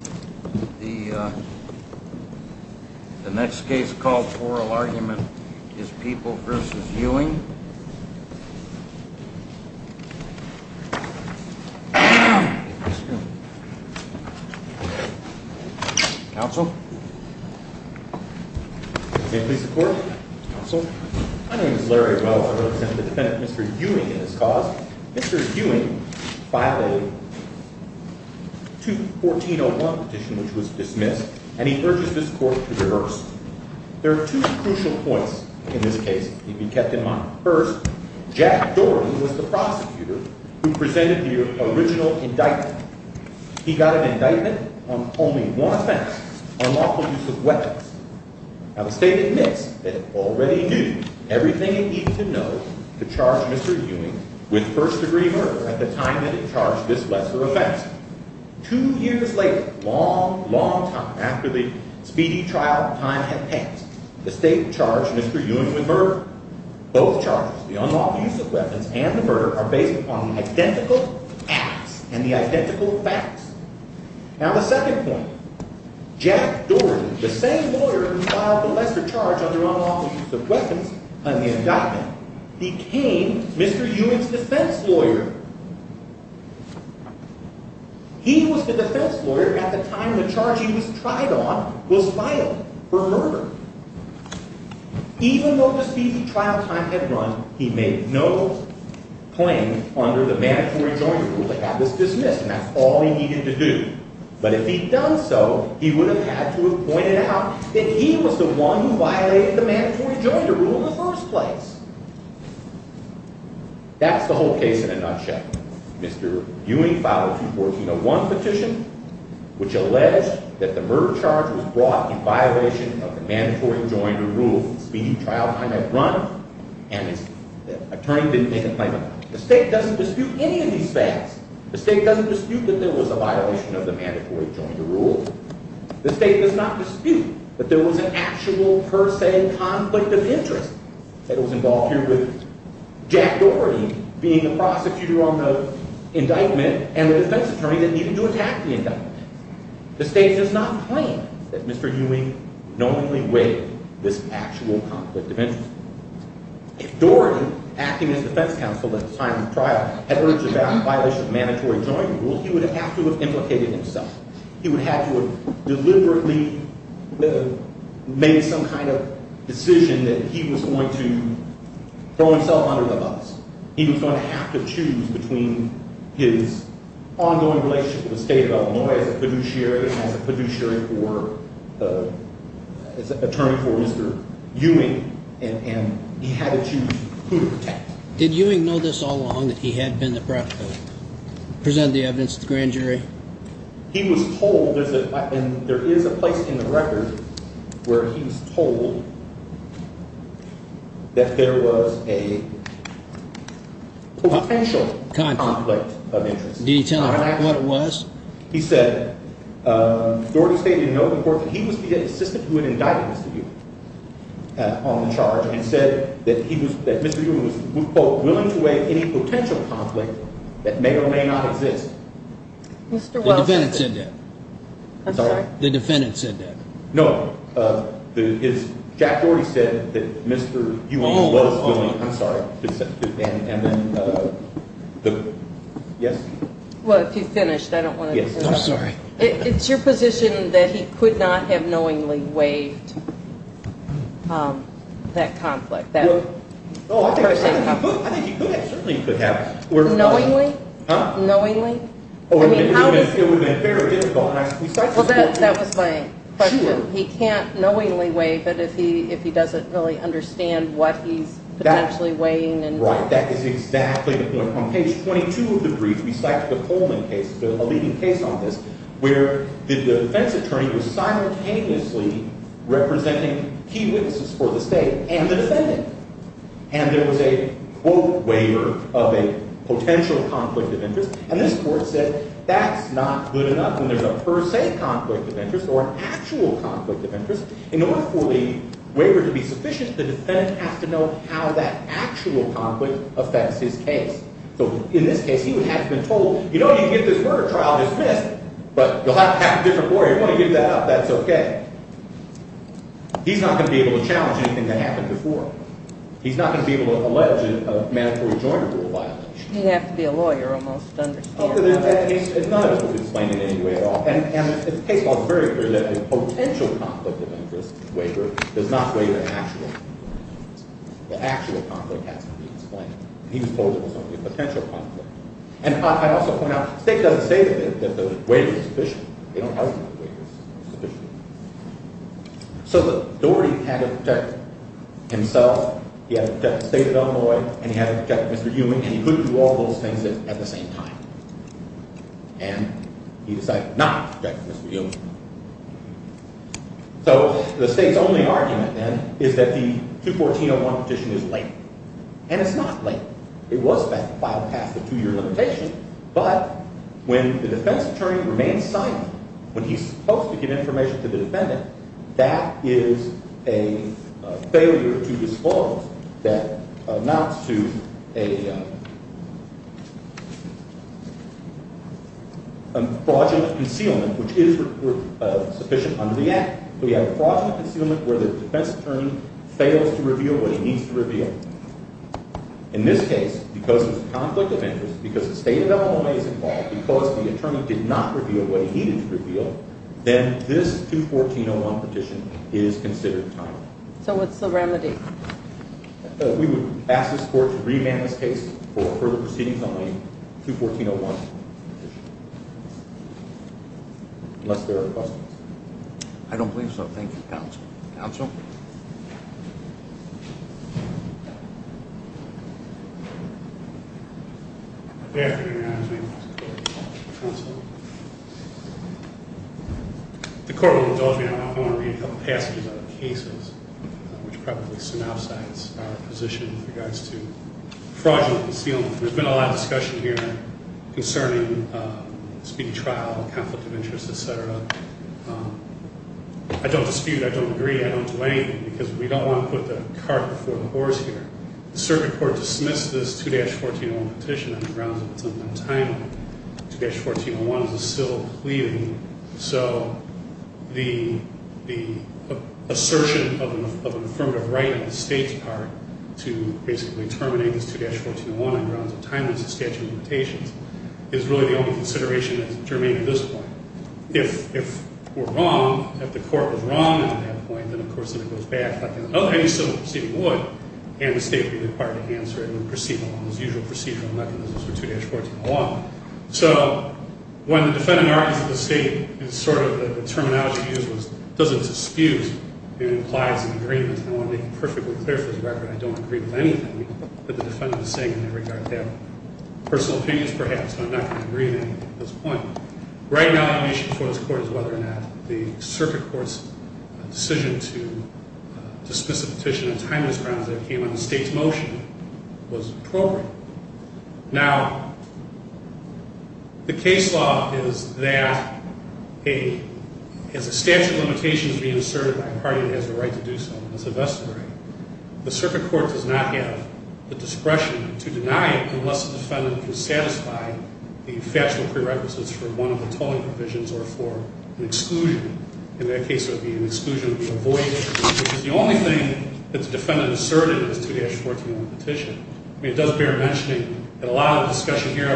The next case called Oral Argument is People v. Ewing Mr. Ewing filed a 2-1401 petition which was dismissed and he urges this court to reverse. There are two crucial points in this case to be kept in mind. First, Jack Doran was the prosecutor who presented the original indictment. He got an indictment on only one offense, unlawful use of weapons. Now the state admits that it already knew everything it needed to know to charge Mr. Ewing with first-degree murder at the time that it charged this lesser offense. Two years later, long, long time after the speedy trial time had passed, the state charged Mr. Ewing with murder. Both charges, the unlawful use of weapons and the murder, are based upon the identical acts and the identical facts. Now the second point, Jack Doran, the same lawyer who filed the lesser charge under unlawful use of weapons on the indictment, became Mr. Ewing's defense lawyer. He was the defense lawyer at the time the charge he was tried on was filed for murder. Even though the speedy trial time had run, he made no claim under the mandatory joinder rule to have this dismissed and that's all he needed to do. But if he'd done so, he would have had to have pointed out that he was the one who violated the mandatory joinder rule in the first place. That's the whole case in a nutshell. Mr. Ewing filed a 2014-01 petition which alleged that the murder charge was brought in violation of the mandatory joinder rule. The speedy trial time had run and the attorney didn't make a claim. The state doesn't dispute any of these facts. The state doesn't dispute that there was a violation of the mandatory joinder rule. The state does not dispute that there was an actual per se conflict of interest that was involved here with Jack Doran being the prosecutor on the indictment and the defense attorney that needed to attack the indictment. The state does not claim that Mr. Ewing knowingly waived this actual conflict of interest. If Doran, acting as defense counsel at the time of the trial, had urged about a violation of the mandatory joinder rule, he would have to have implicated himself. He would have to have deliberately made some kind of decision that he was going to throw himself under the bus. He was going to have to choose between his ongoing relationship with the state of Illinois as a fiduciary and as an attorney for Mr. Ewing, and he had to choose who to protect. Did Ewing know this all along, that he had been the prosecutor, present the evidence to the grand jury? He was told, and there is a place in the record where he was told, that there was a potential conflict of interest. Can you tell us what it was? He said, Doran stated in the open court that he was the assistant who had indicted Mr. Ewing on the charge and said that Mr. Ewing was, quote, willing to waive any potential conflict that may or may not exist. The defendant said that. I'm sorry? The defendant said that. No, Jack Doran said that Mr. Ewing was willing. I'm sorry. Yes? Well, if you've finished, I don't want to interrupt. I'm sorry. It's your position that he could not have knowingly waived that conflict? I think he could have, certainly he could have. Knowingly? Huh? Knowingly? I mean, how does he? It would have been very difficult. Well, that was my question. He can't knowingly waive it if he doesn't really understand what he's potentially waiving. Right, that is exactly the point. On page 22 of the brief, we cite the Coleman case, a leading case on this, where the defense attorney was simultaneously representing key witnesses for the state and the defendant. And there was a, quote, waiver of a potential conflict of interest, and this court said that's not good enough when there's a per se conflict of interest or an actual conflict of interest. In order for the waiver to be sufficient, the defendant has to know how that actual conflict affects his case. So in this case, he would have been told, you know, you can get this murder trial dismissed, but you'll have to have a different lawyer. If you want to give that up, that's okay. He's not going to be able to challenge anything that happened before. He's not going to be able to allege a mandatory joint rule violation. He'd have to be a lawyer almost to understand that. It's not going to be explained in any way at all. And the case was very clear that the potential conflict of interest waiver does not waive an actual conflict of interest. The actual conflict has to be explained. He was told there was only a potential conflict. And I'd also point out, the state doesn't say that the waiver is sufficient. They don't argue that the waiver is sufficient. So Doherty had to protect himself, he had to protect the state of Illinois, and he had to protect Mr. Ewing, and he couldn't do all those things at the same time. And he decided not to protect Mr. Ewing. So the state's only argument then is that the 214-01 petition is late. And it's not late. It was filed past the two-year limitation, but when the defense attorney remains silent, when he's supposed to give information to the defendant, that is a failure to disclose that amounts to a fraudulent concealment, which is sufficient under the Act. We have a fraudulent concealment where the defense attorney fails to reveal what he needs to reveal. In this case, because there's a conflict of interest, because the state of Illinois is involved, because the attorney did not reveal what he needed to reveal, then this 214-01 petition is considered timely. So what's the remedy? We would ask this court to remand this case for further proceedings on the 214-01 petition. Unless there are questions. I don't believe so. Thank you, counsel. Counsel? Good afternoon, Your Honor. My name is Mark McCord. Counsel? The court will indulge me now. I want to read a couple passages out of the cases, which probably synopsize our position with regards to fraudulent concealment. There's been a lot of discussion here concerning speedy trial, conflict of interest, et cetera. I don't dispute, I don't agree, I don't do anything, because we don't want to put the cart before the horse here. The circuit court dismissed this 214-01 petition on the grounds that it's untimely. 214-01 is a civil pleading. So the assertion of an affirmative right on the state's part to basically terminate this 214-01 on the grounds of timeliness of statute of limitations is really the only consideration that's germane at this point. If we're wrong, if the court was wrong at that point, then, of course, then it goes back. Any civil proceeding would, and the state would be required to answer it when proceeding along those usual procedural mechanisms for 214-01. So when the defendant argues that the state is sort of the terminology used, it doesn't dispute, it implies an agreement. And I want to make it perfectly clear for the record, I don't agree with anything that the defendant is saying in regard to their personal opinions, perhaps. I'm not going to agree with anything at this point. Right now, the issue for this court is whether or not the circuit court's decision to dismiss a petition on timeliness grounds that came on the state's motion was appropriate. Now, the case law is that a statute of limitations being asserted by a party that has the right to do so is a vested right. The circuit court does not have the discretion to deny it unless the defendant can satisfy the factual prerequisites for one of the tolling provisions or for an exclusion. In that case, it would be an exclusion to be avoided, which is the only thing that the defendant asserted in his 214-01 petition. I mean, it does bear mentioning that a lot of discussion here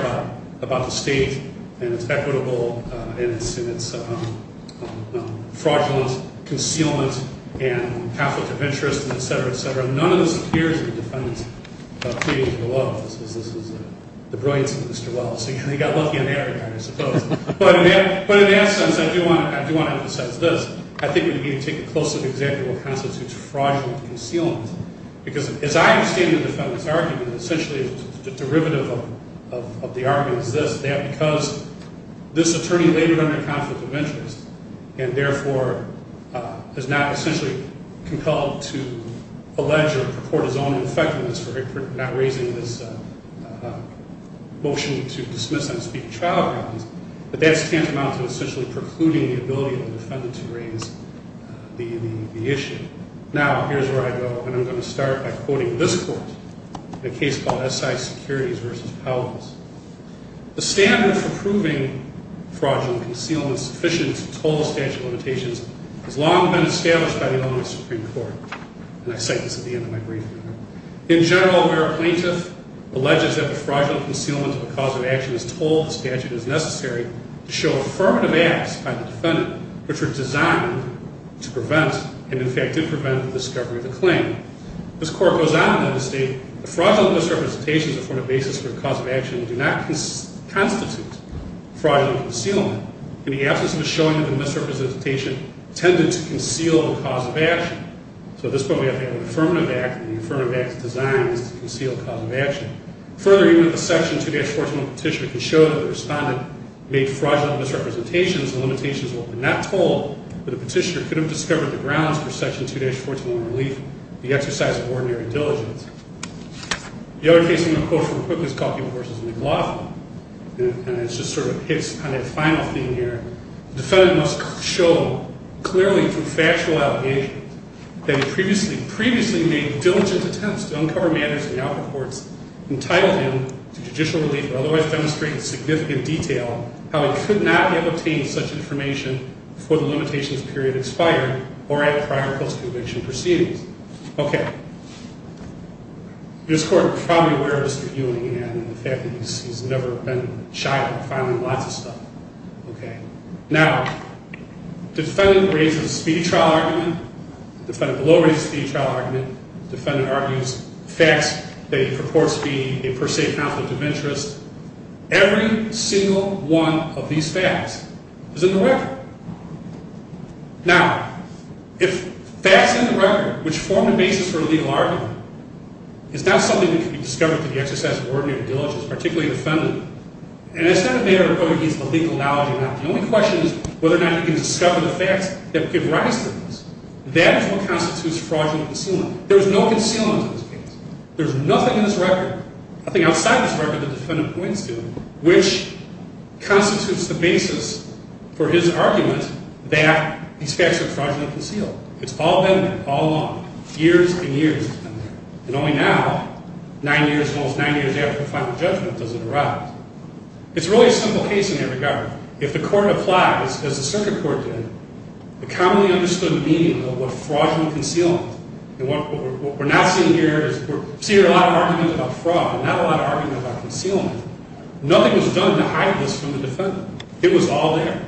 about the state and its equitable and its fraudulent concealment and Catholic interest and et cetera, et cetera. None of this appears in the defendant's plea to the law. This is the brilliance of Mr. Wells. He got lucky in that regard, I suppose. But in that sense, I do want to emphasize this. I think we need to take a closer look at what constitutes fraudulent concealment. Because as I understand the defendant's argument, essentially the derivative of the argument is this, that because this attorney labored under conflict of interest and therefore is not essentially compelled to allege or purport his own infections for not raising this motion to dismiss and speak trial grounds, that that's tantamount to essentially precluding the ability of the defendant to raise the issue. Now, here's where I go, and I'm going to start by quoting this court in a case called S.I. Securities v. Powell. The standard for proving fraudulent concealment sufficient to toll the statute of limitations has long been established by the Illinois Supreme Court. And I cite this at the end of my briefing. In general, where a plaintiff alleges that the fraudulent concealment of a cause of action is tolled, the statute is necessary to show affirmative acts by the defendant which were designed to prevent and, in fact, did prevent the discovery of the claim. This court goes on to state, the fraudulent misrepresentations afford a basis for the cause of action that do not constitute fraudulent concealment. In the absence of a showing of the misrepresentation, tended to conceal the cause of action. So at this point, we have to have an affirmative act, and the affirmative act is designed to conceal the cause of action. Further, even if a section 2-141 petitioner can show that the respondent made fraudulent misrepresentations, the limitations will not toll, but the petitioner could have discovered the grounds for section 2-141 relief, the exercise of ordinary diligence. The other case I'm going to quote from Cook is called the Importance of McLaughlin. And it just sort of hits on that final theme here. The defendant must show clearly through factual allegation that he previously made diligent attempts to uncover matters in the output courts entitled him to judicial relief or otherwise demonstrate in significant detail how he could not have obtained such information before the limitations period expired or at a prior post-conviction proceedings. Okay. This court is probably aware of Mr. Ewing and the fact that he's never been shy about filing lots of stuff. Okay. Now, the defendant raises a speedy trial argument. The defendant below raises a speedy trial argument. The defendant argues facts that he purports to be a per se conflict of interest. Every single one of these facts is in the record. Now, if facts in the record, which form the basis for a legal argument, is not something that can be discovered through the exercise of ordinary diligence, particularly a defendant, and it's not a matter of whether he has the legal knowledge or not. The only question is whether or not he can discover the facts that give rise to this. That is what constitutes fraudulent concealment. There is no concealment in this case. There's nothing in this record, nothing outside this record, the defendant points to, which constitutes the basis for his argument that these facts are fraudulent concealment. It's all been there all along. Years and years it's been there. And only now, nine years, almost nine years after the final judgment, does it arise. It's really a simple case in that regard. If the court applies, as the circuit court did, the commonly understood meaning of what fraudulent concealment. And what we're not seeing here is we're seeing a lot of arguments about fraud, but not a lot of arguments about concealment. Nothing was done to hide this from the defendant. It was all there.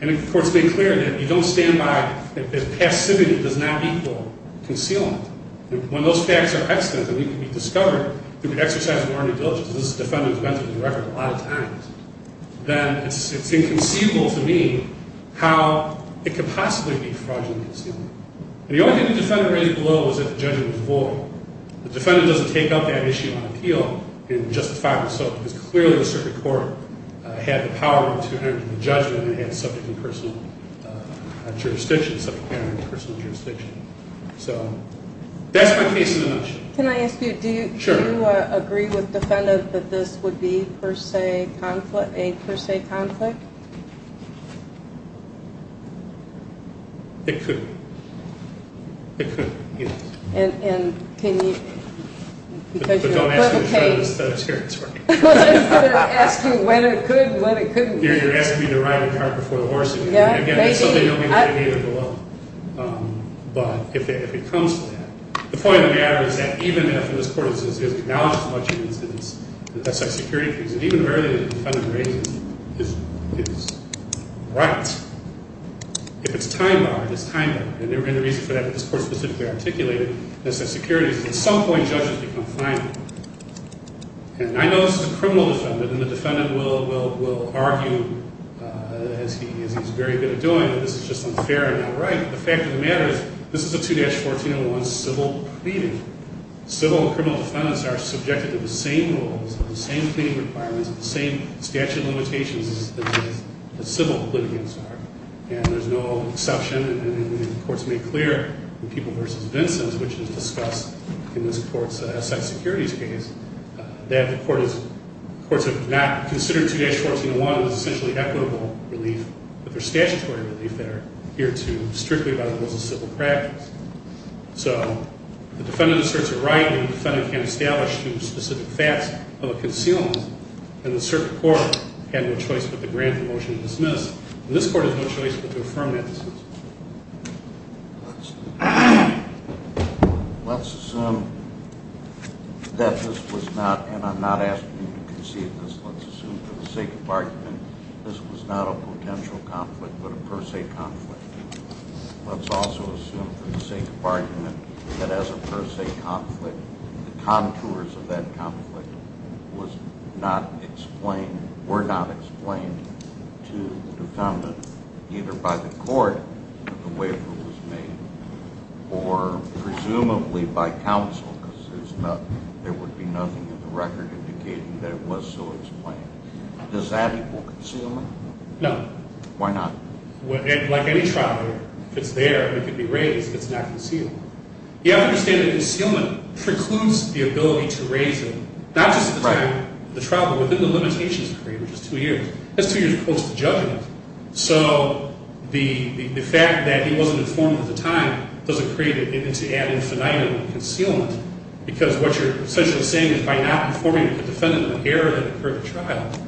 And the court's made clear that you don't stand by if passivity does not equal concealment. And when those facts are excellent, and they can be discovered through an exercise of morality and diligence, as this defendant has mentioned in the record a lot of times, then it's inconceivable to me how it could possibly be fraudulent concealment. And the only thing the defendant raised below was that the judgment was void. The defendant doesn't take up that issue on appeal in just the five minutes. So it's clear the circuit court had the power to enter the judgment and had subject and personal jurisdiction. So that's my case in a nutshell. Can I ask you, do you agree with the defendant that this would be per se a conflict? It could. It could. And can you? But don't ask me to show you this. Here, it's working. I was going to ask you when it could and when it couldn't be. You're asking me to ride the car before the horse. And again, that's something only the defendant will know. But if it comes to that, the point of the matter is that even if this court has acknowledged as much of this as a security case, and even earlier the defendant raises his rights, if it's time-bound, it's time-bound. And there have been reasons for that, but this court specifically articulated this as security. At some point, judges become final. And I know this is a criminal defendant, and the defendant will argue, as he's very good at doing, that this is just unfair and not right. But the fact of the matter is this is a 2-1401 civil pleading. Civil and criminal defendants are subjected to the same rules and the same cleaning requirements and the same statute of limitations that civil pleading is. And there's no exception, and the courts make clear in People v. Vincent, which is discussed in this court's asset securities case, that the courts have not considered 2-1401 as essentially equitable relief, but there's statutory relief there here too, strictly by the rules of civil practice. So the defendant asserts a right when the defendant can't establish through specific facts of a concealment. And the circuit court had no choice but to grant the motion to dismiss. And this court has no choice but to affirm that decision. Let's assume that this was not, and I'm not asking you to concede this, let's assume for the sake of argument this was not a potential conflict but a per se conflict. Let's also assume for the sake of argument that as a per se conflict, the contours of that conflict were not explained to the defendant, either by the court that the waiver was made or presumably by counsel, because there would be nothing in the record indicating that it was so explained. Does that equal concealment? No. Why not? Like any trial, if it's there and it can be raised, it's not concealment. You have to understand that concealment precludes the ability to raise it, not just within the trial, but within the limitations of the claim, which is two years. That's two years post-judgment. So the fact that he wasn't informed at the time doesn't create an ad infinitum of concealment, because what you're essentially saying is by not informing the defendant of the error that occurred at the trial.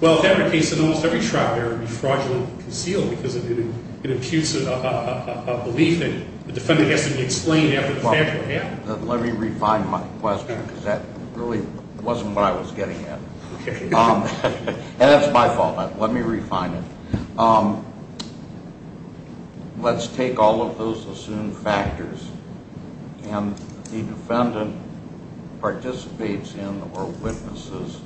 Well, if that were the case, then almost every trial error would be fraudulently concealed because it imputes a belief that the defendant has to be explained after the fact that it happened. Let me refine my question, because that really wasn't what I was getting at. And that's my fault. Let me refine it. Let's take all of those assumed factors, and the defendant participates in or witnesses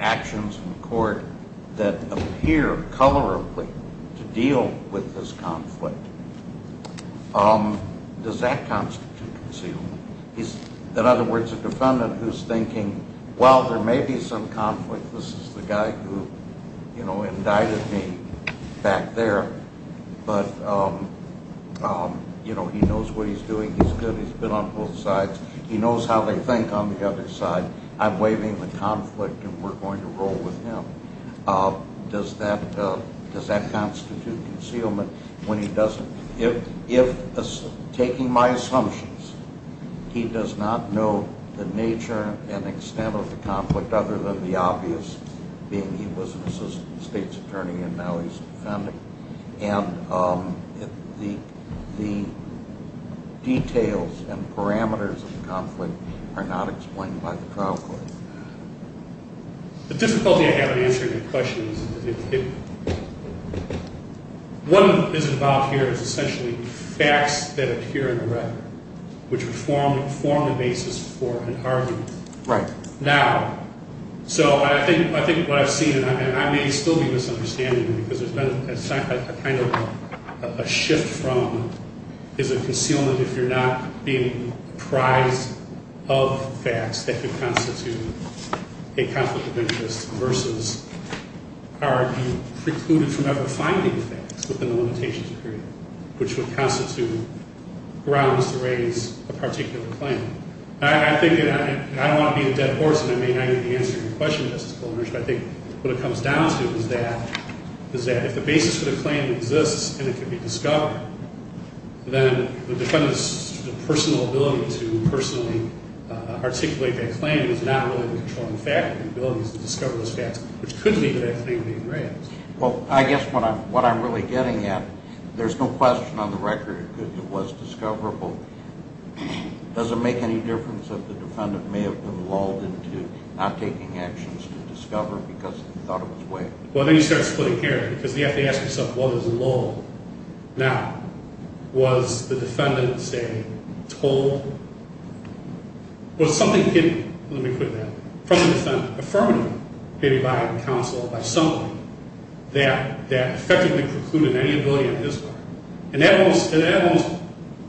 actions in court that appear colorably to deal with this conflict. Does that constitute concealment? In other words, a defendant who's thinking, well, there may be some conflict. This is the guy who, you know, indicted me back there, but, you know, he knows what he's doing. He's good. He's been on both sides. He knows how they think on the other side. I'm waiving the conflict, and we're going to roll with him. Does that constitute concealment when he doesn't? If, taking my assumptions, he does not know the nature and extent of the conflict, other than the obvious being he was an assistant state's attorney, and now he's a defendant, and the details and parameters of the conflict are not explained by the trial court. The difficulty I have in answering your question is that if one is involved here there's essentially facts that appear in a record which would form the basis for an argument. Right. Now, so I think what I've seen, and I may still be misunderstanding, because there's been a kind of a shift from is it concealment if you're not being apprised of facts that could constitute a conflict of interest versus are you precluded from ever finding facts within the limitations period, which would constitute grounds to raise a particular claim. I think, and I don't want to be a dead horse, and I may not even answer your question, Justice Klobuchar, but I think what it comes down to is that if the basis for the claim exists and it can be discovered, then the defendant's personal ability to personally articulate that claim is not really to control the fact. The ability is to discover those facts, which could lead to that claim being raised. Well, I guess what I'm really getting at, there's no question on the record that it was discoverable. Does it make any difference that the defendant may have been lulled into not taking actions to discover because he thought it was waived? Well, then you start splitting hairs, because you have to ask yourself what is lulled. Now, was the defendant, say, told? Was something given, let me put it that way, from the defendant, affirmative, given by counsel, by somebody, that effectively precluded any ability of his part? And that almost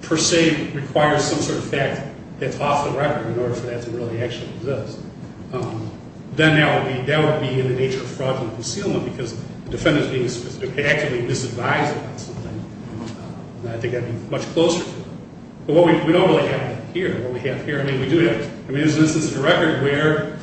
per se requires some sort of fact that's off the record in order for that to really actually exist. Then that would be in the nature of fraudulent concealment, because the defendant is being actively disadvised about something. I think that would be much closer. But what we don't really have here, what we have here, I mean, we do have, I mean, this is a record where the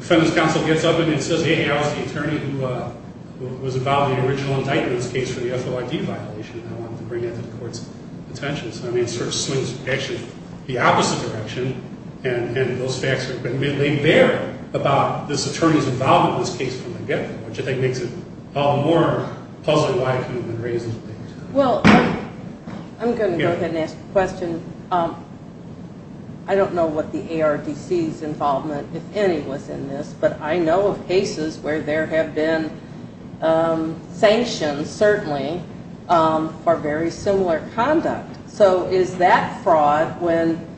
defendant's counsel gets up and says, hey, I was the attorney who was involved in the original indictment's case for the FOID violation and I wanted to bring that to the court's attention. So, I mean, it sort of swings, actually, the opposite direction, and those facts are being laid bare about this attorney's involvement in this case from the get-go, which I think makes it all the more puzzling why it could have been raised in this way. Well, I'm going to go ahead and ask a question. I don't know what the ARDC's involvement, if any, was in this, but I know of cases where there have been sanctions, certainly, for very similar conduct. So is that fraud when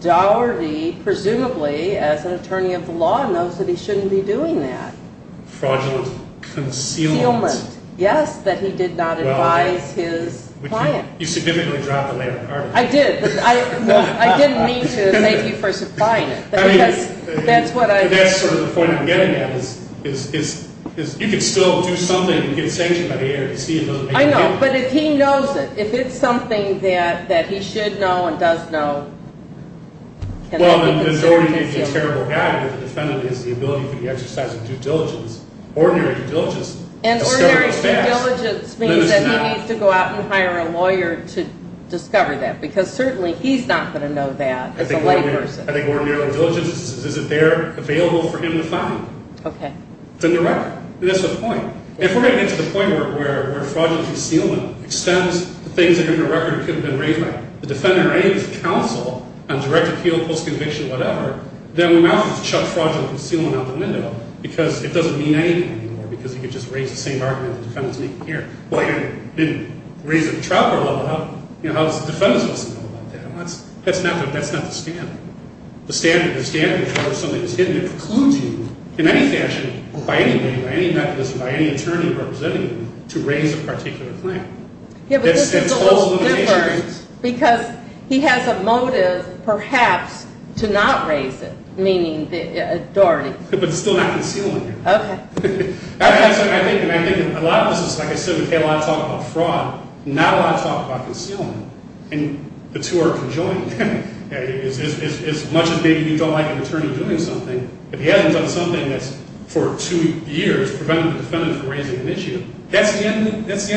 Dougherty, presumably, as an attorney of the law, knows that he shouldn't be doing that? Fraudulent concealment. Concealment, yes, that he did not advise his client. You significantly dropped the layer of carpet. I did. I didn't mean to thank you for supplying it. I mean, that's sort of the point I'm getting at is you could still do something and get sanctioned by the ARDC. I know, but if he knows it, if it's something that he should know and does know, can he conceal it? Well, then it's already a terrible act if the defendant has the ability to exercise due diligence, ordinary due diligence. And ordinary due diligence means that he needs to go out and hire a lawyer to discover that, because certainly he's not going to know that as a layperson. I think ordinary due diligence is if they're available for him to find. Okay. It's in the record. That's the point. If we're going to get to the point where fraudulent concealment extends the things that are in the record could have been raised by the defendant or any counsel, on direct appeal, post-conviction, whatever, then we might as well chuck fraudulent concealment out the window, because it doesn't mean anything anymore, because you could just raise the same argument the defendant's making here. Well, you didn't raise it at the trial court level. How does the defendant's office know about that? That's not the standard. The standard for something is hidden. It precludes you in any fashion, by any way, by any mechanism, by any attorney representing you, to raise a particular claim. Yeah, but this is a little different because he has a motive, perhaps, to not raise it, meaning the authority. But it's still not concealment here. Okay. I think a lot of this is, like I said, okay, a lot of talk about fraud, not a lot of talk about concealment. And the two are conjoined. As much as maybe you don't like an attorney doing something, if he hasn't done something that's, for two years, prevented the defendant from raising an issue, that's the end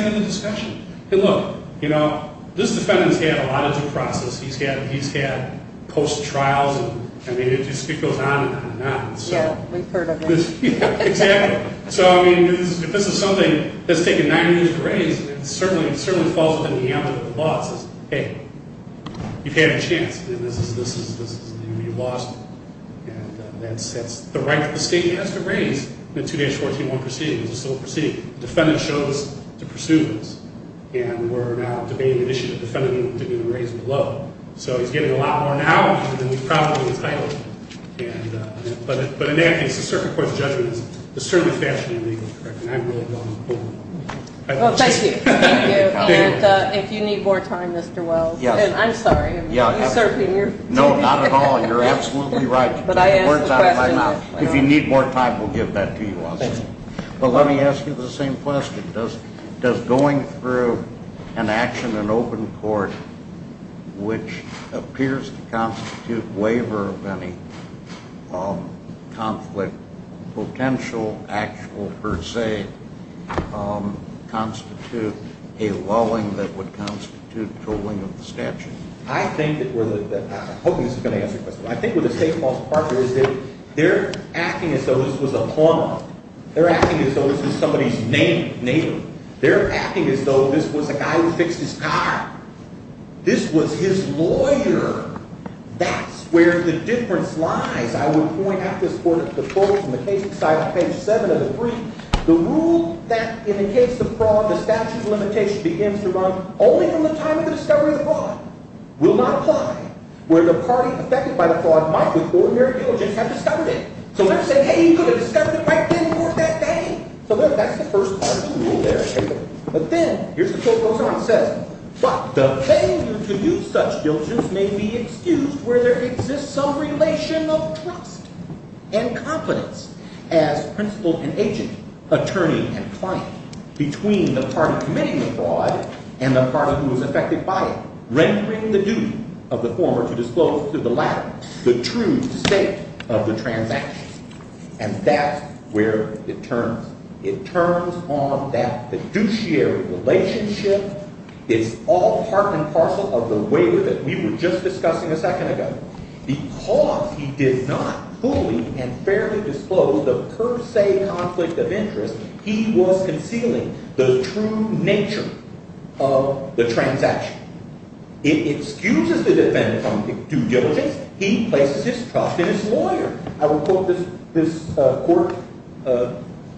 of the discussion. Hey, look, you know, this defendant's had a lot of due process. He's had post-trials, and, I mean, it just goes on and on and on. Yeah, we've heard of it. Yeah, exactly. So, I mean, if this is something that's taken nine years to raise, it certainly falls within the ambit of the law. The law says, hey, you've had a chance, and this is going to be lost. And that's the right that the state has to raise in the 2-14-1 proceeding. It's a civil proceeding. The defendant chose to pursue this, and we're now debating an issue that the defendant didn't even raise below. So he's getting a lot more now than he probably entitled to. But in that case, the circuit court's judgment is certainly fashionally legal, correct? And I really don't know. Well, thank you. Thank you. And if you need more time, Mr. Wells, and I'm sorry, I'm usurping your time. No, not at all. You're absolutely right. You took the words out of my mouth. If you need more time, we'll give that to you also. But let me ask you the same question. Does going through an action in open court, which appears to constitute waiver of any conflict, potential, actual, per se, constitute a lulling that would constitute tolling of the statute? I think that we're the – I hope this is going to answer your question. I think what the state false department is that they're acting as though this was a plumber. They're acting as though this was somebody's neighbor. They're acting as though this was a guy who fixed his car. This was his lawyer. That's where the difference lies. I would point out this for the folks in the case beside page 7 of the brief. The rule that in the case of fraud, the statute of limitation begins to run only from the time of the discovery of the fraud will not apply. Where the party affected by the fraud might, with ordinary diligence, have discovered it. So let's say, hey, you could have discovered it right then or that day. So that's the first part of the rule there. But then here's the quote goes on. It says, but the failure to do such diligence may be excused where there exists some relation of trust and confidence as principal and agent, attorney and client, between the party committing the fraud and the party who was affected by it, rendering the duty of the former to disclose to the latter the true state of the transaction. And that's where it turns. It turns on that fiduciary relationship. It's all part and parcel of the waiver that we were just discussing a second ago. Because he did not fully and fairly disclose the per se conflict of interest, he was concealing the true nature of the transaction. It excuses the defendant from due diligence. He places his trust in his lawyer. I will quote this court,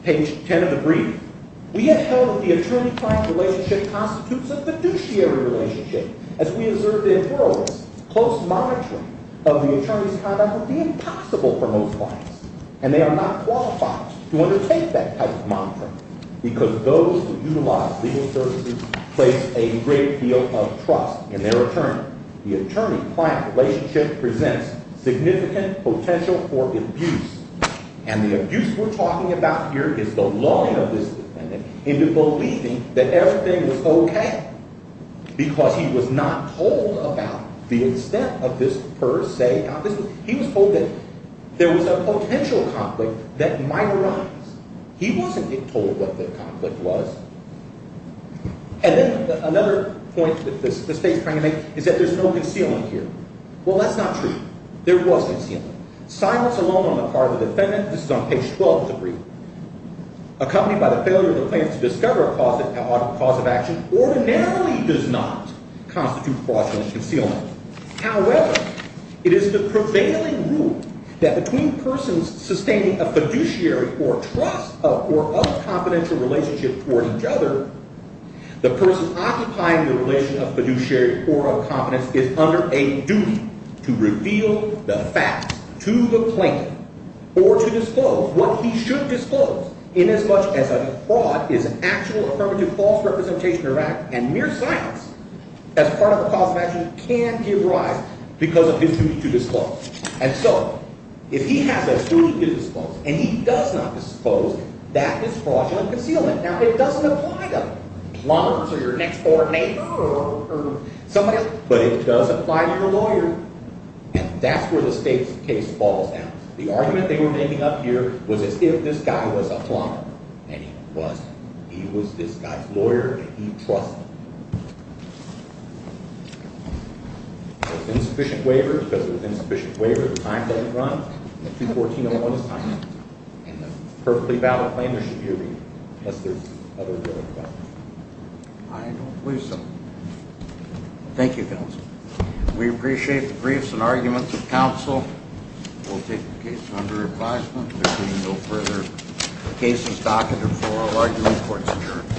page 10 of the brief. We have held that the attorney-client relationship constitutes a fiduciary relationship. As we observed in Burlesque, close monitoring of the attorney's conduct would be impossible for most clients. And they are not qualified to undertake that type of monitoring. Because those who utilize legal services place a great deal of trust in their attorney. The attorney-client relationship presents significant potential for abuse. And the abuse we're talking about here is the lawyer of this defendant into believing that everything was OK. Because he was not told about the extent of this per se. He was told that there was a potential conflict that might arise. He wasn't told what the conflict was. And then another point that the state is trying to make is that there's no concealing here. Well, that's not true. There was concealing. Silence alone on the part of the defendant, this is on page 12 of the brief, accompanied by the failure of the plaintiff to discover a cause of action ordinarily does not constitute fraudulent concealment. However, it is the prevailing rule that between persons sustaining a fiduciary or trust of or of confidential relationship toward each other, the person occupying the relation of fiduciary or of confidence is under a duty to reveal the facts to the plaintiff or to disclose what he should disclose in as much as a fraud is actual, affirmative, false representation of fact, and mere silence as part of a cause of action can give rise because of his duty to disclose. And so if he has a duty to disclose and he does not disclose, that is fraudulent concealment. Now, it doesn't apply to lawyers or your next board member or somebody else. But it does apply to your lawyer. And that's where the state's case falls out. The argument they were making up here was as if this guy was a lawyer, and he wasn't. He was this guy's lawyer, and he trusted him. There's insufficient waiver because there's insufficient waiver. The time doesn't run. It's 214.01. It's time. And a perfectly valid claim should be reviewed unless there's other evidence about it. I don't believe so. Thank you, counsel. We appreciate the briefs and arguments of counsel. We'll take the case under advisement. If there's any no further cases, docket, or floral, are you in court to adjourn the case? All rise.